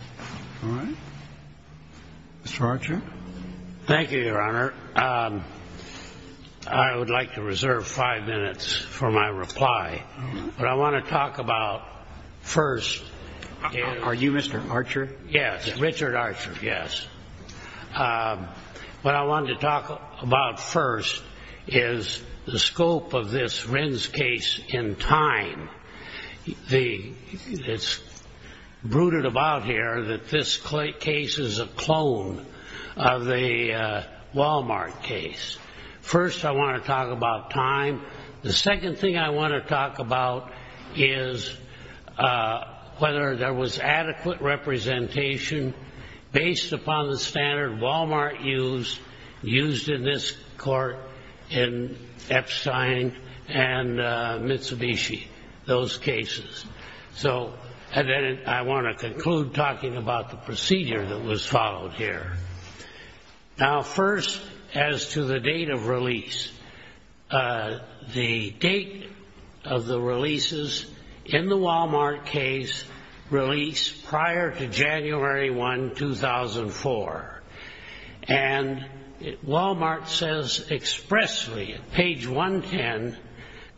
All right. Mr. Archer. Thank you, Your Honor. I would like to reserve five minutes for my reply. What I want to talk about first... Are you Mr. Archer? Yes, Richard Archer, yes. What I wanted to talk about first is the scope of this Rens case in time. It's brooded about here that this case is a clone of the Walmart case. First, I want to talk about time. The second thing I want to talk about is whether there was adequate representation based upon the standard Walmart used, used in this court in Epstein and Mitsubishi, those cases. So I want to conclude talking about the procedure that was followed here. Now, first, as to the date of release, the date of the releases in the Walmart case released prior to January 1, 2004. And Walmart says expressly, page 110,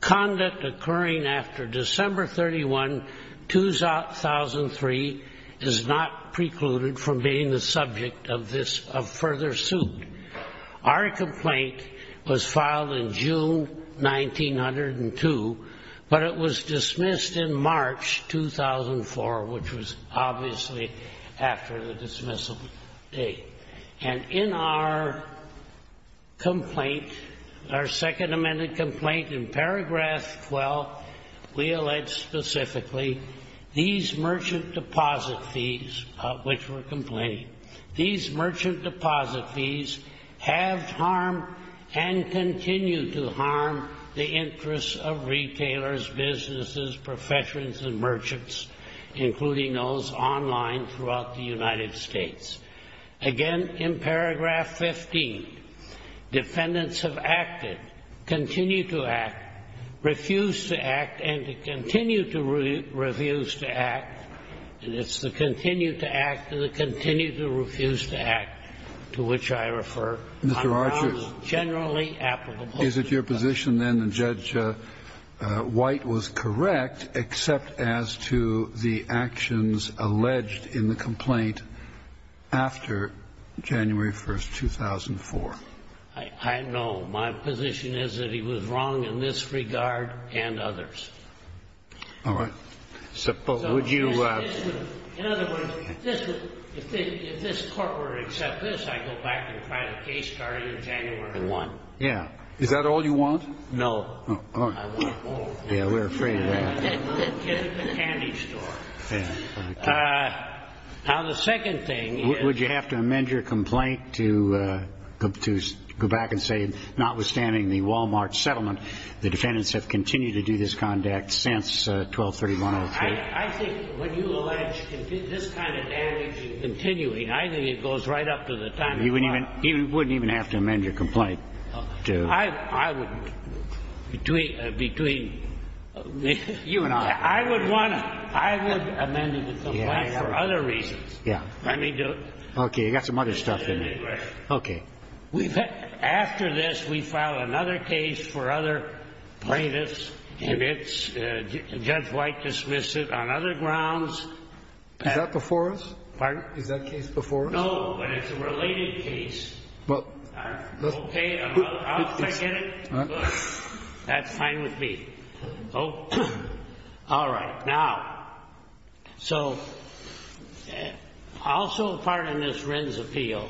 conduct occurring after December 31, 2003 is not precluded from being the subject of further suit. Our complaint was filed in June 1902, but it was dismissed in March 2004, which was obviously after the dismissal date. And in our complaint, our second amended complaint in paragraph 12, we allege specifically these merchant deposit fees, which we're complaining, these merchant deposit fees have harmed and continue to harm the interests of retailers, businesses, professions, and merchants, including those online throughout the United States. Again, in paragraph 15, defendants have acted, continued to act, refused to act, and to continue to refuse to act, and it's the continue to act and the continue to refuse to act to which I refer. Mr. Archer, is it your position then that Judge White was correct except as to the actions alleged in the complaint after January 1, 2004? I know. My position is that he was wrong in this regard and others. All right. In other words, if this court were to accept this, I'd go back and file a case starting January 1. Yeah. Is that all you want? No. I want more. Yeah, we're afraid of that. Get at the candy store. Now, the second thing is – Would you have to amend your complaint to go back and say notwithstanding the Wal-Mart settlement, the defendants have continued to do this conduct since 1231-03? I think when you allege this kind of damage and continuing, I think it goes right up to the time of trial. You wouldn't even have to amend your complaint to – I would – between – You and I. I would want to – I would amend the complaint for other reasons. Yeah. Let me do it. Okay. You've got some other stuff in there. Okay. After this, we file another case for other plaintiffs, and it's – Judge White dismissed it on other grounds. Is that before us? Pardon? Is that case before us? No, but it's a related case. Okay. I'll get it. That's fine with me. All right. Now, so also part of this Wren's Appeal,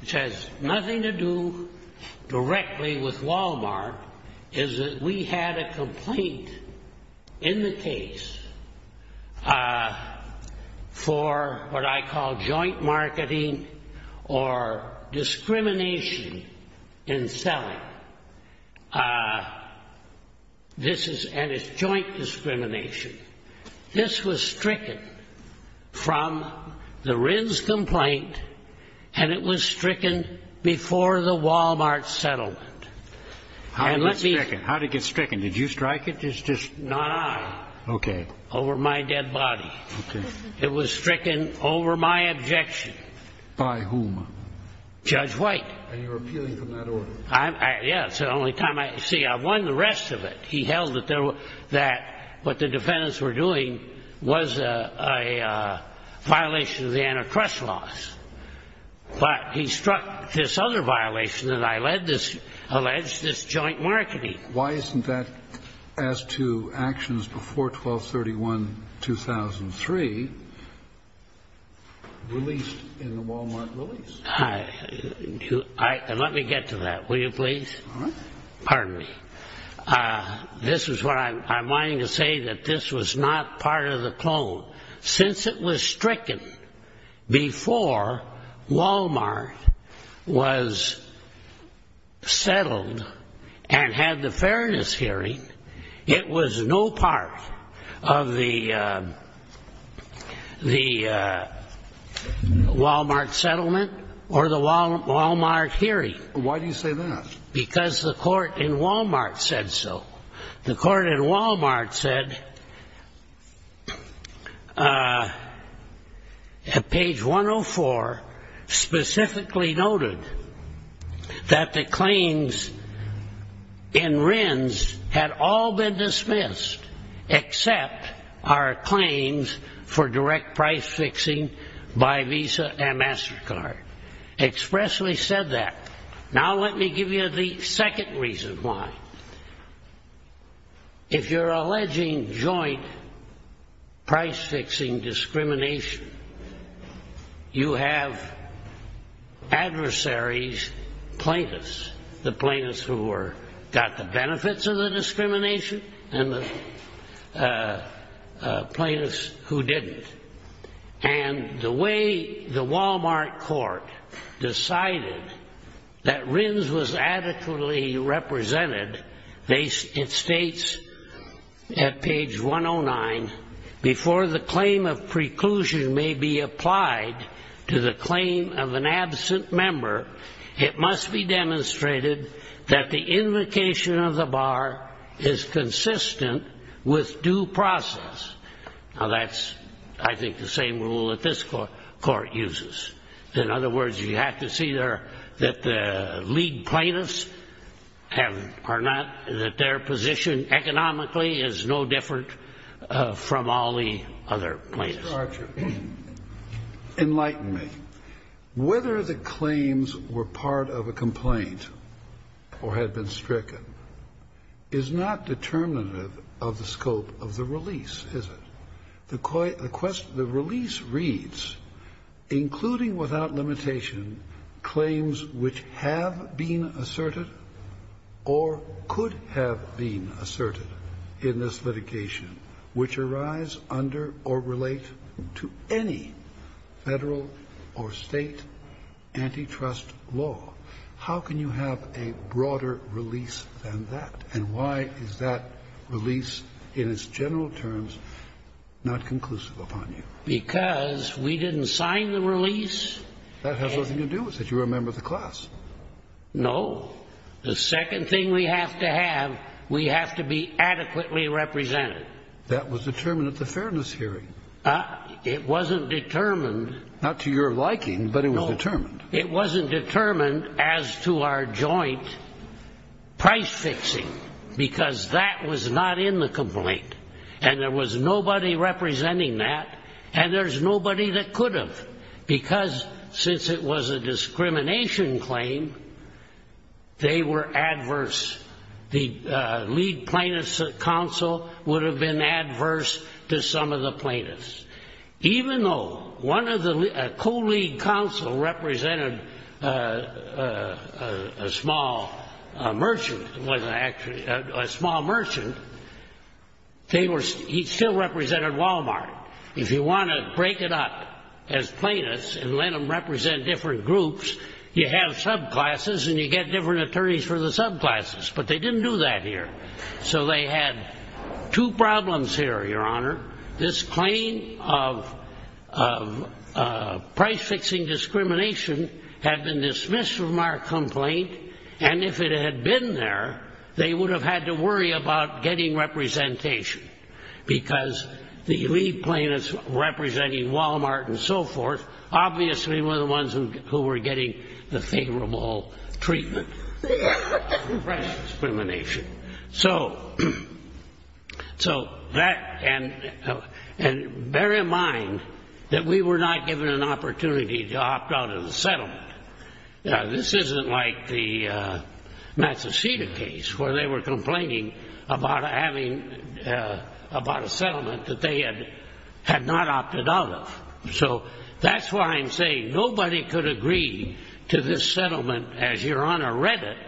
which has nothing to do directly with Wal-Mart, is that we had a complaint in the case for what I call joint marketing or discrimination in selling. This is – and it's joint discrimination. This was stricken from the Wren's complaint, and it was stricken before the Wal-Mart settlement. And let me – How did it get stricken? Did you strike it? It's just – Not I. Okay. Over my dead body. Okay. It was stricken over my objection. By whom? Judge White. And you're appealing from that order? Yes. See, I won the rest of it. He held that what the defendants were doing was a violation of the antitrust laws. But he struck this other violation that I alleged, this joint marketing. Why isn't that, as to actions before 12-31-2003, released in the Wal-Mart release? Let me get to that, will you please? Pardon me. This is what I'm – I'm wanting to say that this was not part of the clone. Why do you say that? Because the court in Wal-Mart said so. The court in Wal-Mart said, at page 104, specifically noted that the claims in Wren's had all been dismissed except our claims for direct price-fixing by Visa and MasterCard. Expressly said that. Now let me give you the second reason why. If you're alleging joint price-fixing discrimination, you have adversaries plaintiffs, the plaintiffs who got the benefits of the discrimination and the plaintiffs who didn't. And the way the Wal-Mart court decided that Wren's was adequately represented, it states at page 109, before the claim of preclusion may be applied to the claim of an absent member, it must be demonstrated that the invocation of the bar is consistent with due process. Now that's, I think, the same rule that this court uses. In other words, you have to see that the lead plaintiffs are not – are not exempt from all the other plaintiffs. Mr. Archer, enlighten me. Whether the claims were part of a complaint or had been stricken is not determinative of the scope of the release, is it? The release reads, including without limitation claims which have been asserted or could have been asserted in this litigation which arise under or relate to any Federal or State antitrust law. How can you have a broader release than that? And why is that release in its general terms not conclusive upon you? Because we didn't sign the release. That has nothing to do with it. You were a member of the class. No. The second thing we have to have, we have to be adequately represented. That was determined at the fairness hearing. It wasn't determined. Not to your liking, but it was determined. No. It wasn't determined as to our joint price fixing, because that was not in the complaint, and there was nobody representing that, and there's nobody that could have, because since it was a discrimination claim, they were adverse. The lead plaintiff's counsel would have been adverse to some of the plaintiffs. Even though a co-lead counsel represented a small merchant, he still represented Walmart. If you want to break it up as plaintiffs and let them represent different groups, you have subclasses and you get different attorneys for the subclasses, but they didn't do that here. So they had two problems here, Your Honor. This claim of price fixing discrimination had been dismissed from our complaint, and if it had been there, they would have had to worry about getting representation, because the lead plaintiffs representing Walmart and so forth obviously were the ones who were getting the favorable treatment for price discrimination. So bear in mind that we were not given an opportunity to opt out of the settlement. This isn't like the Massachusetts case where they were complaining about a settlement that they had not opted out of. So that's why I'm saying nobody could agree to this settlement as Your Honor read it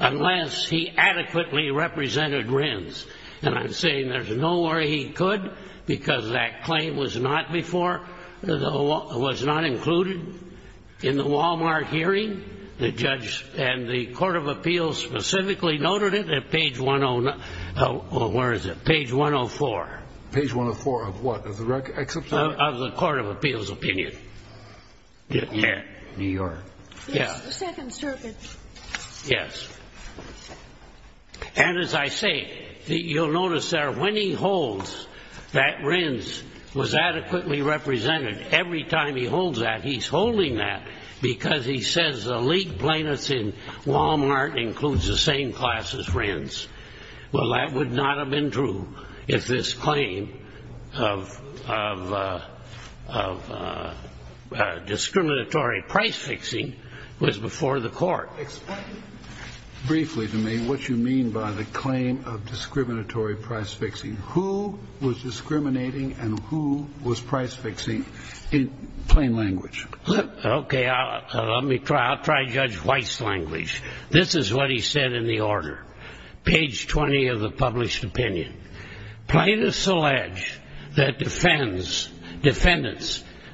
unless he adequately represented RINs, and I'm saying there's no way he could, because that claim was not included in the Walmart hearing. The judge and the Court of Appeals specifically noted it at page 104. Page 104 of what? Of the Court of Appeals opinion. New York. Yes, the Second Circuit. Yes. And as I say, you'll notice there when he holds that RINs was adequately represented, every time he holds that, he's holding that because he says the lead plaintiffs in Walmart includes the same class as RINs. Well, that would not have been true if this claim of discriminatory price fixing was before the court. Explain briefly to me what you mean by the claim of discriminatory price fixing. Who was discriminating and who was price fixing in plain language? Okay. Let me try. I'll try Judge White's language. This is what he said in the order, page 20 of the published opinion. Plaintiffs allege that defendants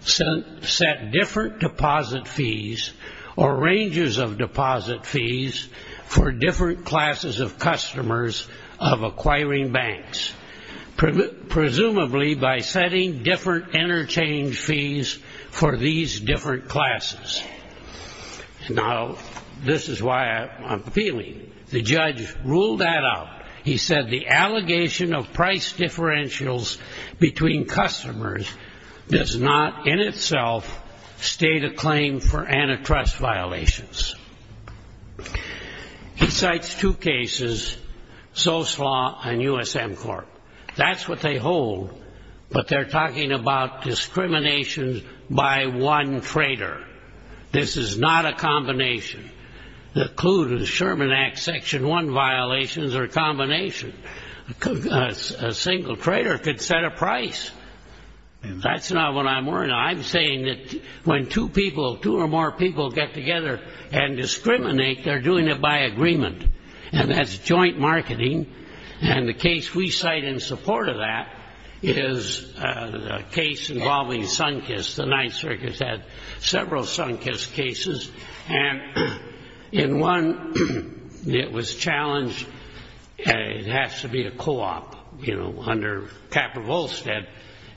set different deposit fees or ranges of deposit fees for different classes of customers of acquiring banks, presumably by setting different interchange fees for these different classes. Now, this is why I'm appealing. The judge ruled that out. He said the allegation of price differentials between customers does not in itself state a claim for antitrust violations. He cites two cases, Soslaw and USM Corp. That's what they hold, but they're talking about discrimination by one trader. This is not a combination. The clue to the Sherman Act Section 1 violations are a combination. A single trader could set a price. That's not what I'm worried about. I'm saying that when two people, two or more people get together and discriminate, they're doing it by agreement, and that's joint marketing. And the case we cite in support of that is a case involving Sunkist. The Ninth Circuit has had several Sunkist cases, and in one, it was challenged. It has to be a co-op, you know, under Capra-Volstead.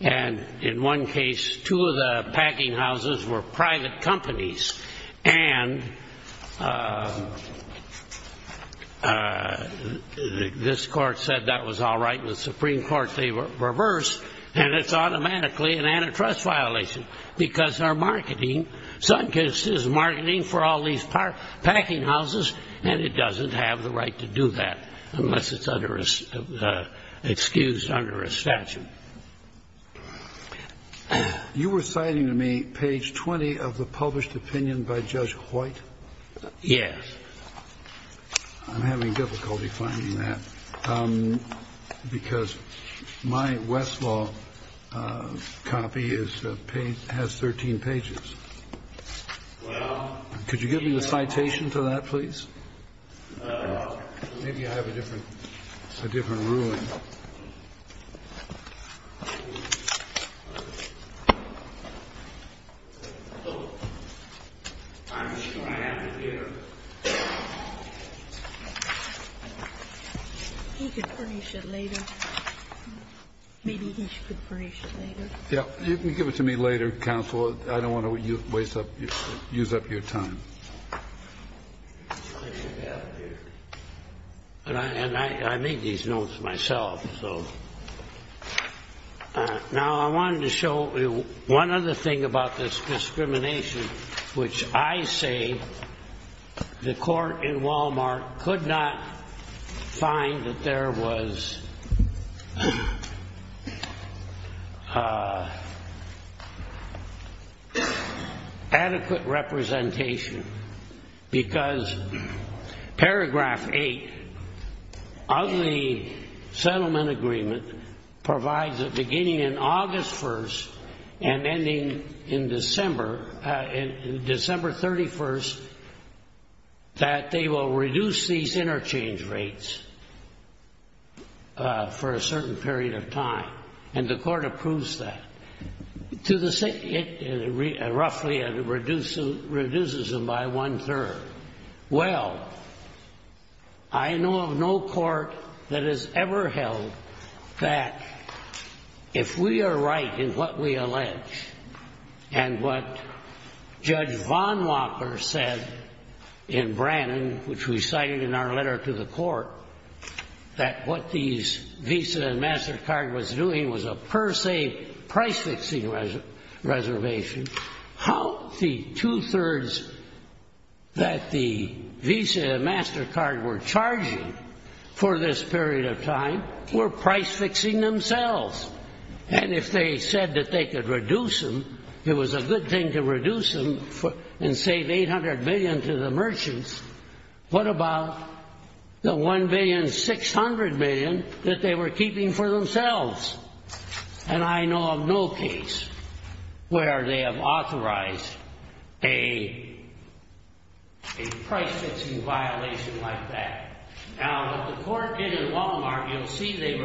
And in one case, two of the packing houses were private companies, and this court said that was all right. The Supreme Court reversed, and it's automatically an antitrust violation because our marketing, Sunkist is marketing for all these packing houses, and it doesn't have the right to do that unless it's excused under a statute. You were citing to me page 20 of the published opinion by Judge Hoyt? Yes. I'm having difficulty finding that because my Westlaw copy has 13 pages. Could you give me the citation for that, please? Maybe I have a different ruling. I'm sure I have it here. He could furnish it later. Maybe he could furnish it later. Yeah. You can give it to me later, counsel. I don't want to use up your time. I should have it here. And I made these notes myself. Now, I wanted to show one other thing about this discrimination, which I say the court in Walmart could not find that there was adequate representation because paragraph 8 of the settlement agreement provides that beginning on August 1st and ending in December, December 31st, that they will reduce these interchange rates for a certain period of time, and the court approves that. It roughly reduces them by one-third. Well, I know of no court that has ever held that if we are right in what we allege and what Judge Von Walker said in Brannon, which we cited in our letter to the court, that what these Visa and MasterCard was doing was a per se price-fixing reservation, how the two-thirds that the Visa and MasterCard were charging for this period of time were price-fixing themselves. And if they said that they could reduce them, it was a good thing to reduce them and save $800 million to the merchants. What about the $1,600,000,000 that they were keeping for themselves? And I know of no case where they have authorized a price-fixing violation like that. Now, what the court did in Walmart, you'll see they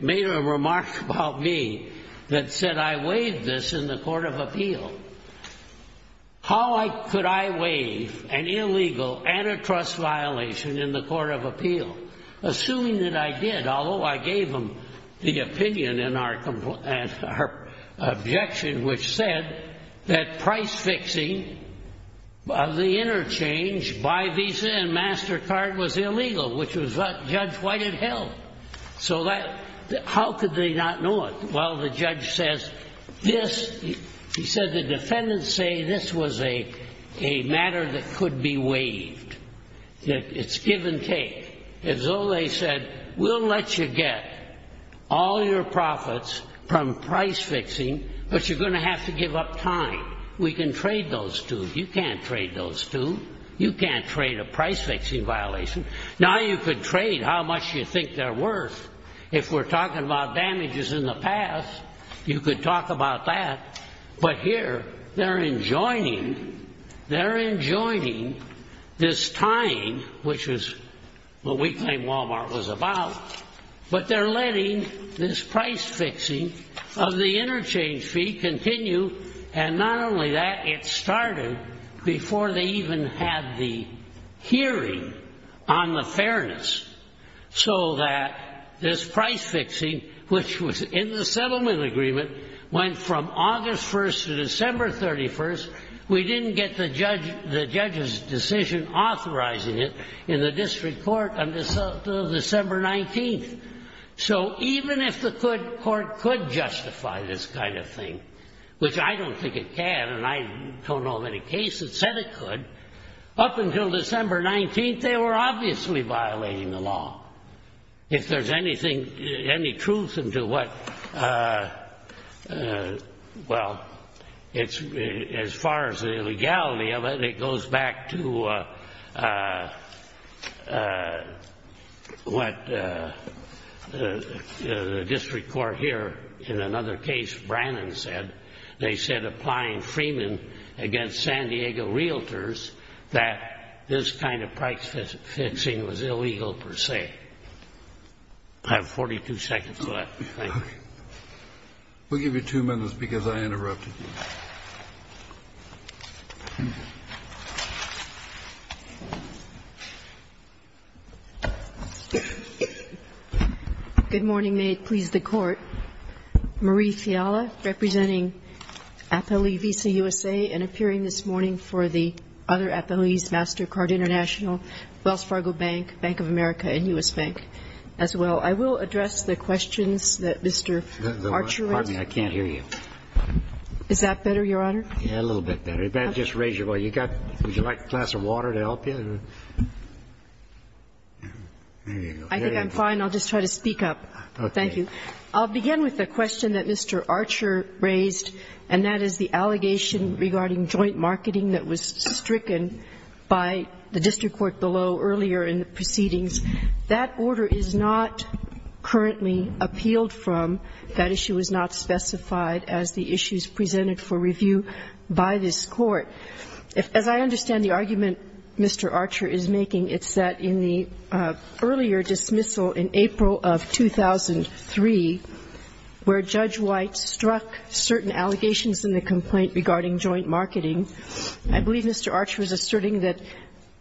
made a remark about me that said I waived this in the Court of Appeal. How could I waive an illegal antitrust violation in the Court of Appeal? Assuming that I did, although I gave them the opinion in our objection, which said that price-fixing of the interchange by Visa and MasterCard was illegal, which was what Judge White had held. So how could they not know it? Well, the judge says this, he said the defendants say this was a matter that could be waived, that it's give and take. As though they said we'll let you get all your profits from price-fixing, but you're going to have to give up time. We can trade those two. You can't trade those two. You can't trade a price-fixing violation. Now you could trade how much you think they're worth. If we're talking about damages in the past, you could talk about that. But here, they're enjoining this tying, which is what we claim Walmart was about, but they're letting this price-fixing of the interchange fee continue, and not only that, it started before they even had the hearing on the fairness so that this price-fixing, which was in the settlement agreement, went from August 1st to December 31st. We didn't get the judge's decision authorizing it in the district court until December 19th. So even if the court could justify this kind of thing, which I don't think it can, and I don't know of any case that said it could, up until December 19th, they were obviously violating the law. If there's any truth into what, well, as far as the legality of it, it goes back to what the district court here in another case, Brannon, said. They said, applying Freeman against San Diego realtors, that this kind of price-fixing was illegal per se. I have 42 seconds left. Thank you. Kennedy. We'll give you two minutes because I interrupted you. Good morning. May it please the Court. Marie Fiala, representing Apolli Visa USA and appearing this morning for the other Apolli's MasterCard International, Wells Fargo Bank, Bank of America, and U.S. Bank. As well, I will address the questions that Mr. Archer has. Pardon me. I can't hear you. Is that better? Is that better, Your Honor? Yeah, a little bit better. Just raise your voice. Would you like a glass of water to help you? There you go. I think I'm fine. I'll just try to speak up. Thank you. I'll begin with the question that Mr. Archer raised, and that is the allegation regarding joint marketing that was stricken by the district court below earlier in the proceedings. That order is not currently appealed from. That issue was not specified as the issues presented for review by this court. As I understand the argument Mr. Archer is making, it's that in the earlier dismissal in April of 2003, where Judge White struck certain allegations in the complaint regarding joint marketing, I believe Mr. Archer is asserting that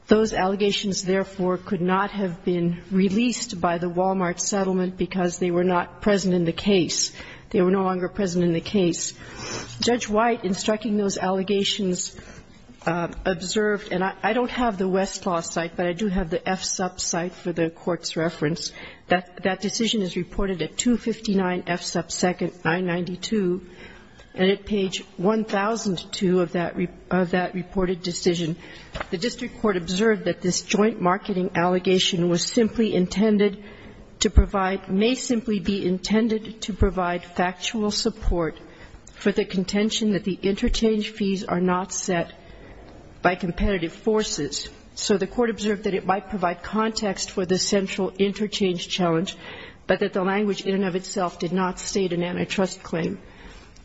those allegations, therefore, could not have been released by the Walmart settlement because they were not present in the case. They were no longer present in the case. Judge White, in striking those allegations, observed, and I don't have the Westlaw site, but I do have the FSUP site for the Court's reference, that that decision is reported at 259 FSUP 2nd, 992, and at page 1002 of that reported decision. The district court observed that this joint marketing allegation was simply intended to provide, may simply be intended to provide factual support for the contention that the interchange fees are not set by competitive forces. So the court observed that it might provide context for the central interchange challenge, but that the language in and of itself did not state an antitrust claim.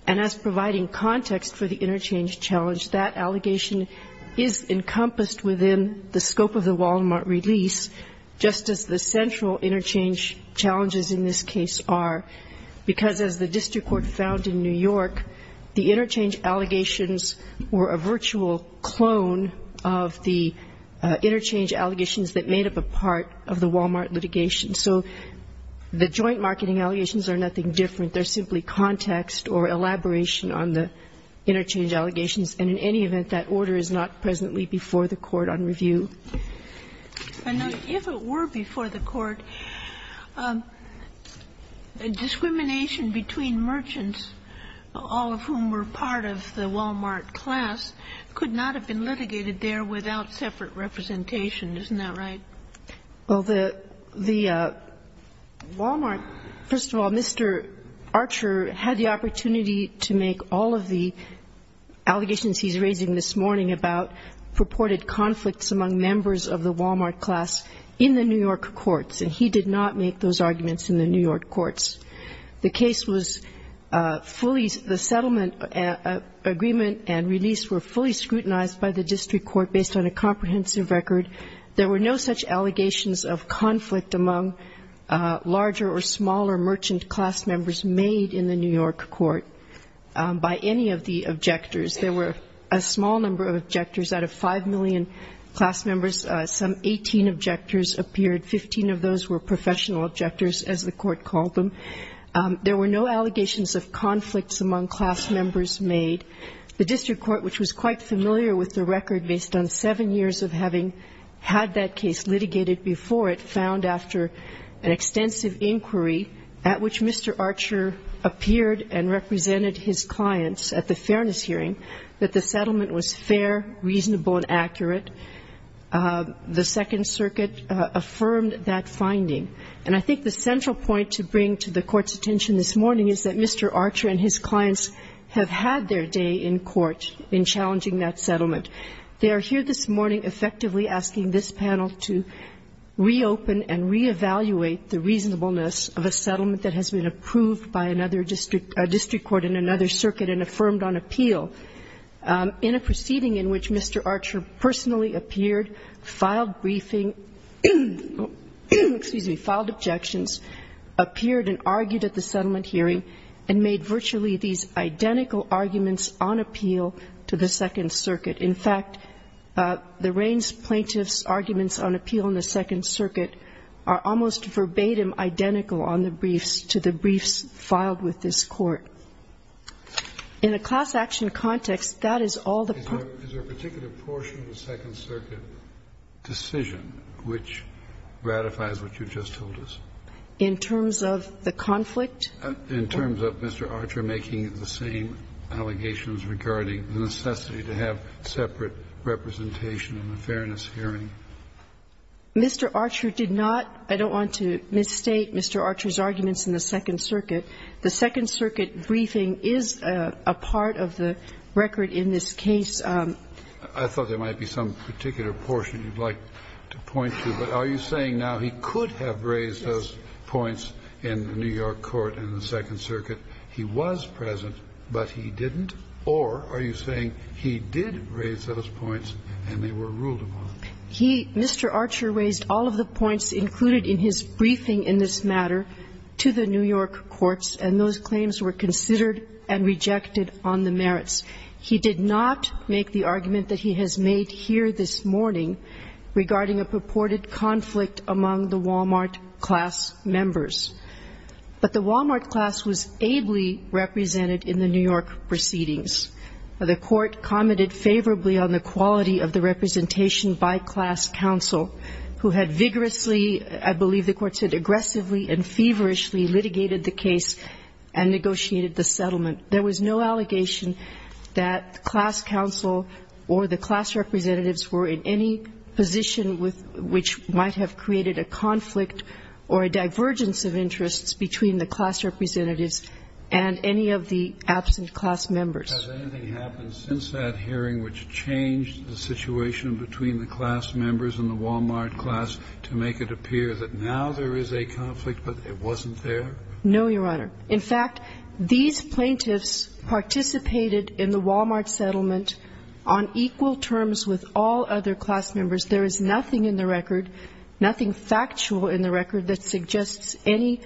And as providing context for the interchange challenge, that allegation is encompassed within the scope of the Walmart release, just as the central interchange challenges in this case are, because as the district court found in New York, the interchange allegations were a virtual clone of the interchange allegations that made up a part of the Walmart litigation. So the joint marketing allegations are nothing different. They're simply context or elaboration on the interchange allegations. And in any event, that order is not presently before the Court on review. And if it were before the Court, discrimination between merchants, all of whom were part of the Walmart class, could not have been litigated there without separate representation. Isn't that right? Well, the Walmart, first of all, Mr. Archer had the opportunity to make all of the allegations he's raising this morning about purported conflicts among merchants and members of the Walmart class in the New York courts. And he did not make those arguments in the New York courts. The case was fully the settlement agreement and release were fully scrutinized by the district court based on a comprehensive record. There were no such allegations of conflict among larger or smaller merchant class members made in the New York court by any of the objectors. There were a small number of objectors out of 5 million class members. Some 18 objectors appeared. Fifteen of those were professional objectors, as the Court called them. There were no allegations of conflicts among class members made. The district court, which was quite familiar with the record based on seven years of having had that case litigated before it, found after an extensive inquiry at which Mr. Archer appeared and represented his clients at the fairness hearing that the settlement was fair, reasonable, and accurate. The Second Circuit affirmed that finding. And I think the central point to bring to the Court's attention this morning is that Mr. Archer and his clients have had their day in court in challenging that settlement. They are here this morning effectively asking this panel to reopen and reevaluate the reasonableness of a settlement that has been approved by another district court in another circuit and affirmed on appeal. In a proceeding in which Mr. Archer personally appeared, filed briefing excuse me, filed objections, appeared and argued at the settlement hearing, and made virtually these identical arguments on appeal to the Second Circuit. In fact, the Raines plaintiff's arguments on appeal in the Second Circuit are almost verbatim identical on the briefs to the briefs filed with this Court. In a class action context, that is all the particular portion of the Second Circuit decision which ratifies what you just told us. In terms of the conflict? In terms of Mr. Archer making the same allegations regarding the necessity to have separate representation in the fairness hearing. Mr. Archer did not. I don't want to misstate Mr. Archer's arguments in the Second Circuit. The Second Circuit briefing is a part of the record in this case. I thought there might be some particular portion you'd like to point to, but are you saying now he could have raised those points in the New York court in the Second Circuit, he was present, but he didn't, or are you saying he did raise those points and they were ruled upon? He, Mr. Archer raised all of the points included in his briefing in this matter to the New York courts, and those claims were considered and rejected on the merits. He did not make the argument that he has made here this morning regarding a purported conflict among the Wal-Mart class members. But the Wal-Mart class was ably represented in the New York proceedings. The court commented favorably on the quality of the representation by class counsel who had vigorously, I believe the court said aggressively and feverishly, litigated the case and negotiated the settlement. There was no allegation that class counsel or the class representatives were in any position with which might have created a conflict or a divergence of interests between the class representatives and any of the absent class members. Has anything happened since that hearing which changed the situation between the class members and the Wal-Mart class to make it appear that now there is a conflict but it wasn't there? No, Your Honor. In fact, these plaintiffs participated in the Wal-Mart settlement on equal terms with all other class members. There is nothing in the record, nothing factual in the record that suggests any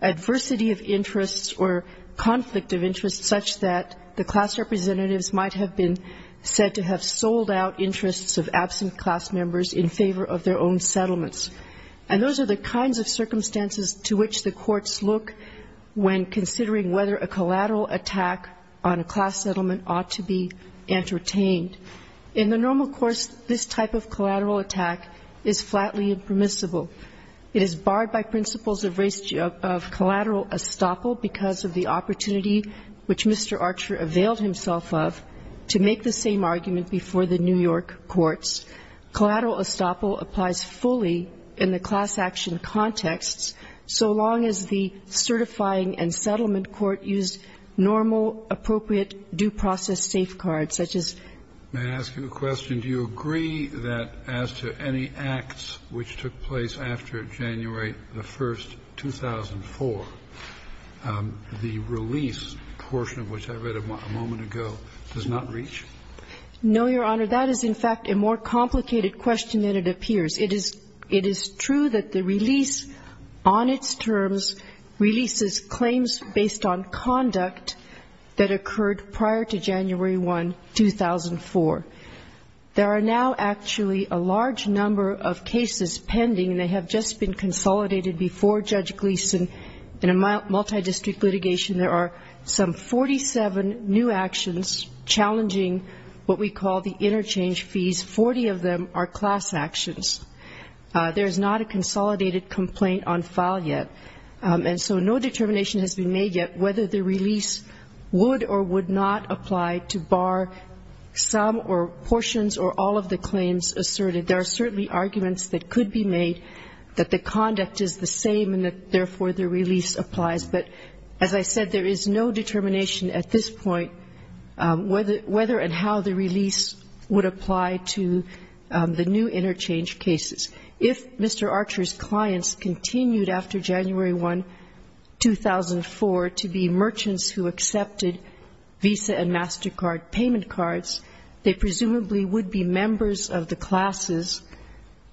adversity of interests or conflict of interest such that the class representatives might have been said to have sold out interests of absent class members in favor of their own settlements. And those are the kinds of circumstances to which the courts look when considering whether a collateral attack on a class settlement ought to be entertained. In the normal course, this type of collateral attack is flatly impermissible. It is barred by principles of collateral estoppel because of the opportunity which Mr. Archer availed himself of to make the same argument before the New York courts. Collateral estoppel applies fully in the class action contexts so long as the certifying and settlement court used normal, appropriate due process safeguards, such as the case that I just described. May I ask you a question? Do you agree that as to any acts which took place after January the 1st, 2004, the release portion of which I read a moment ago does not reach? No, Your Honor. That is, in fact, a more complicated question than it appears. It is true that the release on its terms releases claims based on conduct that occurred prior to January 1, 2004. There are now actually a large number of cases pending, and they have just been consolidated before Judge Gleeson in a multidistrict litigation. There are some 47 new actions challenging what we call the interchange fees. Forty of them are class actions. There is not a consolidated complaint on file yet. And so no determination has been made yet whether the release would or would not apply to bar some or portions or all of the claims asserted. There are certainly arguments that could be made that the conduct is the same and that, therefore, the release applies. But as I said, there is no determination at this point whether and how the release would apply to the new interchange cases. If Mr. Archer's clients continued after January 1, 2004, to be merchants who accepted Visa and MasterCard payment cards, they presumably would be members of the classes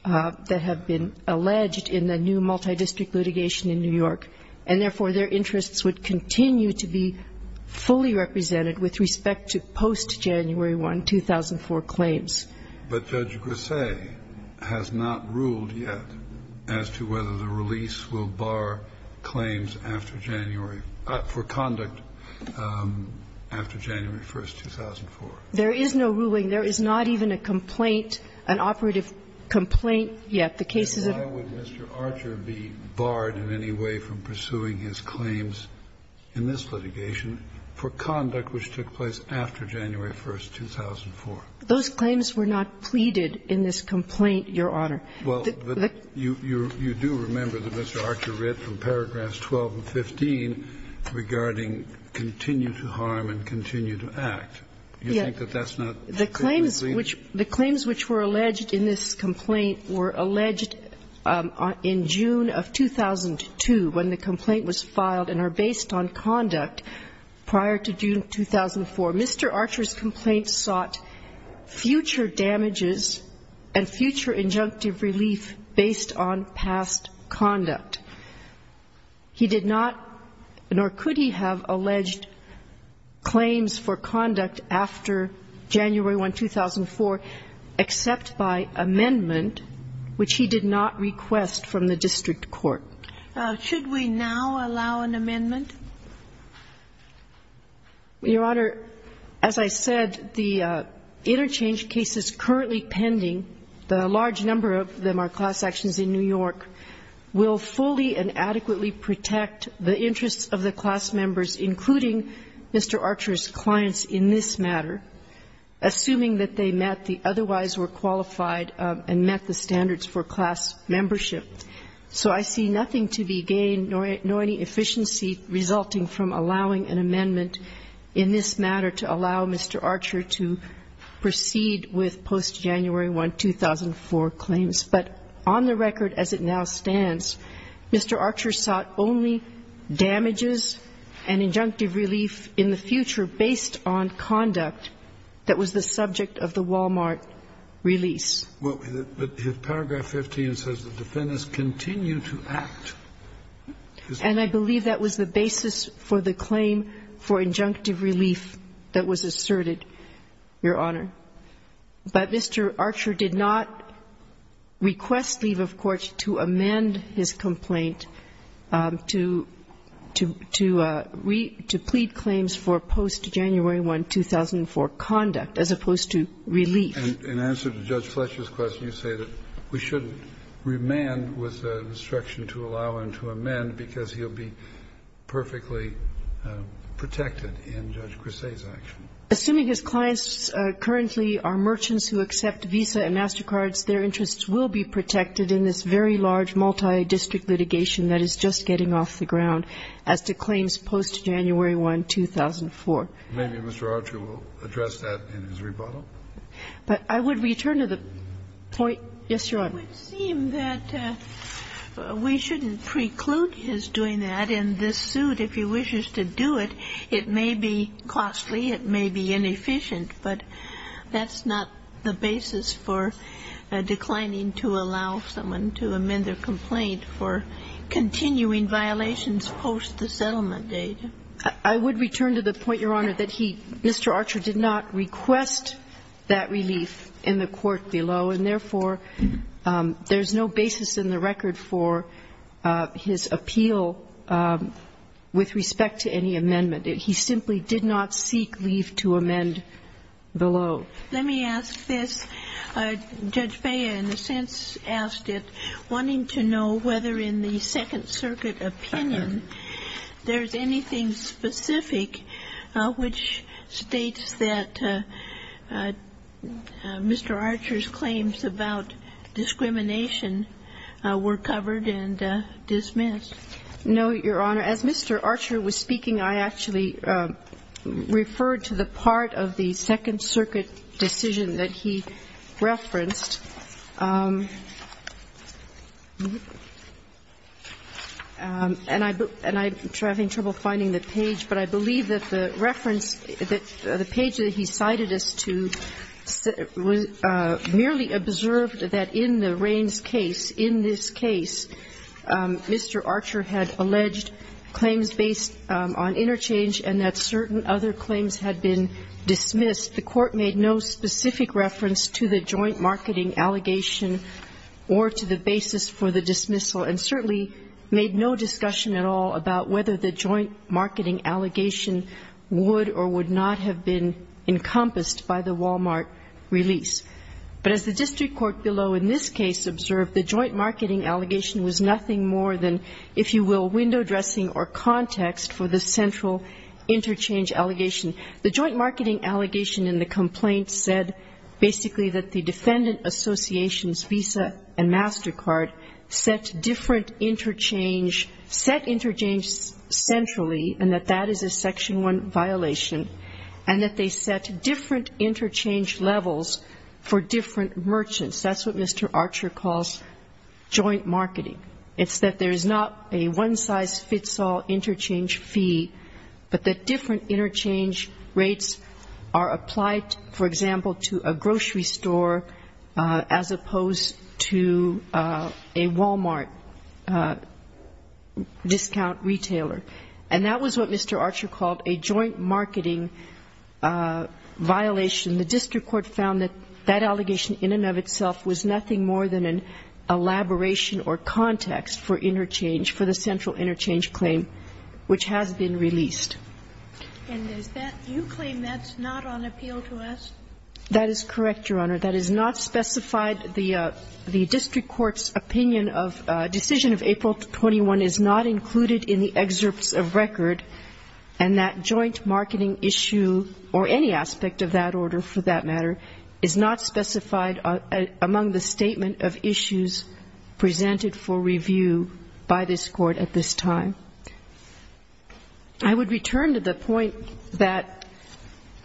that have been alleged in the new multidistrict litigation in New York, and, therefore, their interests would continue to be fully represented with respect to post-January 1, 2004 claims. But Judge Grisey has not ruled yet as to whether the release will bar claims after January or for conduct after January 1, 2004. There is no ruling. There is not even a complaint, an operative complaint yet. The case is that Mr. Archer be barred in any way from pursuing his claims in this litigation for conduct which took place after January 1, 2004. Those claims were not pleaded in this complaint, Your Honor. Well, but you do remember that Mr. Archer read from paragraphs 12 and 15 regarding continue to harm and continue to act. Do you think that that's not the case? The claims which were alleged in this complaint were alleged in June of 2002 when the complaint was filed and are based on conduct prior to June of 2004. Mr. Archer's complaint sought future damages and future injunctive relief based on past conduct. He did not, nor could he, have alleged claims for conduct after January 1, 2004. Except by amendment, which he did not request from the district court. Should we now allow an amendment? Your Honor, as I said, the interchange cases currently pending, the large number of them are class actions in New York, will fully and adequately protect the interests of the class members, including Mr. Archer's clients in this matter. Assuming that they met the otherwise were qualified and met the standards for class membership. So I see nothing to be gained, nor any efficiency resulting from allowing an amendment in this matter to allow Mr. Archer to proceed with post-January 1, 2004 claims. But on the record as it now stands, Mr. Archer sought only damages and injunctive relief in the future based on conduct that was the subject of the Walmart release. But paragraph 15 says the defendants continue to act. And I believe that was the basis for the claim for injunctive relief that was asserted, Your Honor. But Mr. Archer did not request leave of court to amend his complaint to, to, to plead claims for post-January 1, 2004 conduct, as opposed to relief. And in answer to Judge Fletcher's question, you say that we should remand with a restriction to allow and to amend because he'll be perfectly protected in Judge Cressay's action. Assuming his clients currently are merchants who accept Visa and MasterCards, their interests will be protected in this very large multidistrict litigation that is just getting off the ground as to claims post-January 1, 2004. Maybe Mr. Archer will address that in his rebuttal. But I would return to the point. Yes, Your Honor. It would seem that we shouldn't preclude his doing that in this suit. If he wishes to do it, it may be costly, it may be inefficient, but that's not the point, Your Honor. I would return to the point, Your Honor, that he, Mr. Archer did not request that relief in the court below, and therefore, there's no basis in the record for his appeal with respect to any amendment. He simply did not seek leave to amend below. Let me ask this. Judge Bea, in a sense, asked it wanting to know whether in the Second Circuit opinion there's anything specific which states that Mr. Archer's claims about discrimination were covered and dismissed. No, Your Honor. As Mr. Archer was speaking, I actually referred to the part of the Second Circuit decision that he referenced. And I'm having trouble finding the page, but I believe that the reference that the page that he cited as to merely observed that in the Raines case, in this case, Mr. Archer had alleged claims based on interchange and that certain other claims had been dismissed. The Court made no specific reference to the joint marketing allegation or to the basis for the dismissal, and certainly made no discussion at all about whether the joint marketing allegation would or would not have been encompassed by the Walmart release. But as the district court below in this case observed, the joint marketing allegation was nothing more than, if you will, window dressing or context for the central interchange allegation. The joint marketing allegation in the complaint said basically that the defendant association's visa and MasterCard set different interchange, set interchange centrally, and that that is a Section I violation, and that they set different interchange levels for different merchants. That's what Mr. Archer calls joint marketing. It's that there's not a one-size-fits-all interchange fee, but that different interchange rates are applied, for example, to a grocery store as opposed to a Walmart discount retailer. And that was what Mr. Archer called a joint marketing violation. The district court found that that allegation in and of itself was nothing more than an elaboration or context for interchange, for the central interchange claim which has been released. And is that you claim that's not on appeal to us? That is correct, Your Honor. That is not specified. The district court's opinion of decision of April 21 is not included in the excerpts of record, and that joint marketing issue or any aspect of that order, for that matter, is not specified among the statement of issues presented for review by this court at this time. I would return to the point that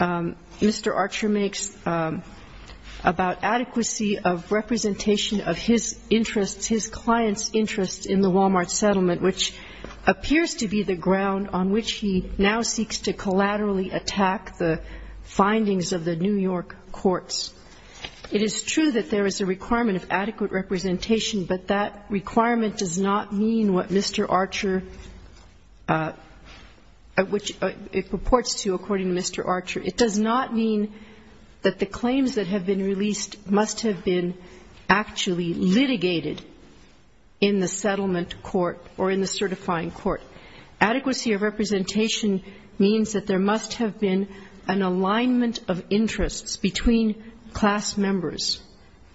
Mr. Archer makes about adequacy of representation of his interests, his clients' interests in the Walmart settlement, which appears to be the ground on which he now seeks to collaterally attack the findings of the New York courts. It is true that there is a requirement of adequate representation, but that requirement does not mean what Mr. Archer, which it purports to according to Mr. Archer. It does not mean that the claims that have been released must have been actually litigated in the settlement court or in the certifying court. Adequacy of representation means that there must have been an alignment of interests between class members.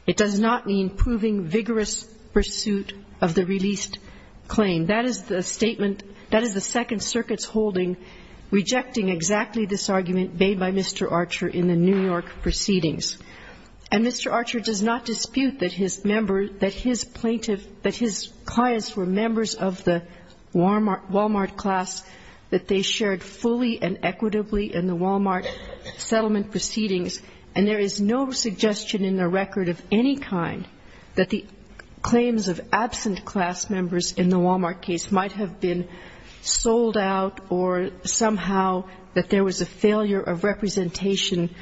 It does not mean proving vigorous pursuit of the released claim. That is the statement, that is the Second Circuit's holding, rejecting exactly this argument made by Mr. Archer in the New York proceedings. And Mr. Archer does not dispute that his member, that his plaintiff, that his clients were members of the Walmart class, that they shared fully and equitably in the Walmart settlement proceedings. And there is no suggestion in the record of any kind that the claims of absent class members in the Walmart case might have been sold out or somehow that there was a failure of representation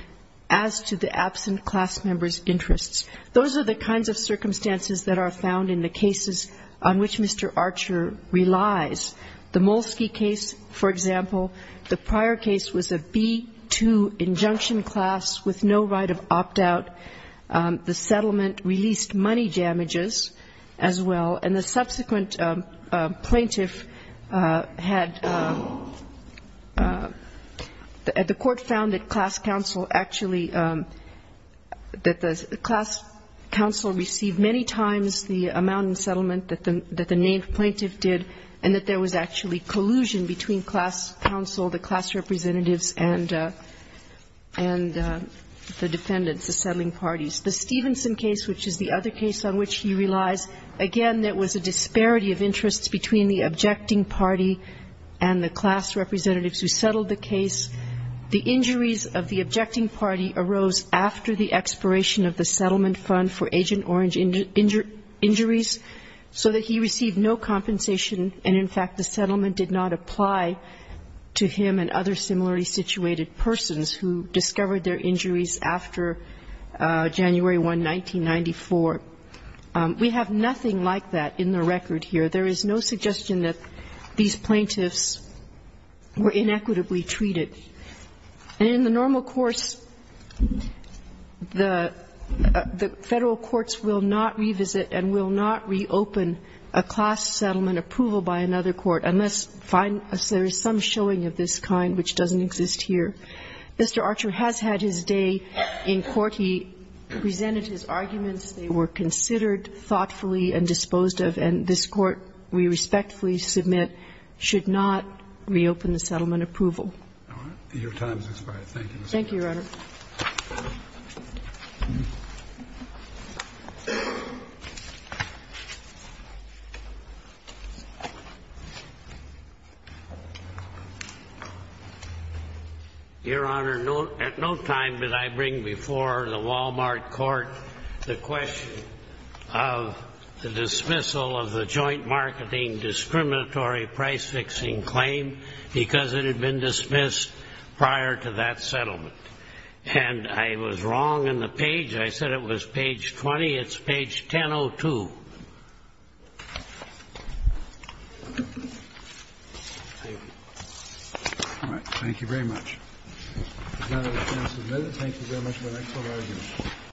as to the absent class members' interests. Those are the kinds of circumstances that are found in the cases on which Mr. Archer relies. The Molsky case, for example, the prior case was a B-2 injunction class with no right of opt-out. The settlement released money damages as well, and the subsequent plaintiff had the court found that class counsel actually, that the class counsel received many times the amount in settlement that the named plaintiff did and that there was actually collusion between class counsel, the class representatives and the defendants, the settling parties. The Stevenson case, which is the other case on which he relies, again, there was a disparity of interests between the objecting party and the class representatives who settled the case. The injuries of the objecting party arose after the expiration of the settlement fund for Agent Orange injuries, so that he received no compensation and, in fact, the settlement did not apply to him and other similarly situated persons who discovered their injuries after January 1, 1994. We have nothing like that in the record here. There is no suggestion that these plaintiffs were inequitably treated. And in the normal course, the Federal courts will not revisit and will not reopen a class settlement approval by another court unless there is some showing of this kind, which doesn't exist here. Mr. Archer has had his day in court. He presented his arguments. They were considered thoughtfully and disposed of, and this Court, we respectfully submit, should not reopen the settlement approval. Your time has expired. Thank you. Thank you, Your Honor. Your Honor, at no time did I bring before the Wal-Mart court the question of the dismissal of the joint marketing discriminatory price-fixing claim because it had been dismissed prior to that settlement. And I was wrong in the page. I said it was page 20. It's page 1002. Thank you. Thank you very much. Thank you very much, Your Honor.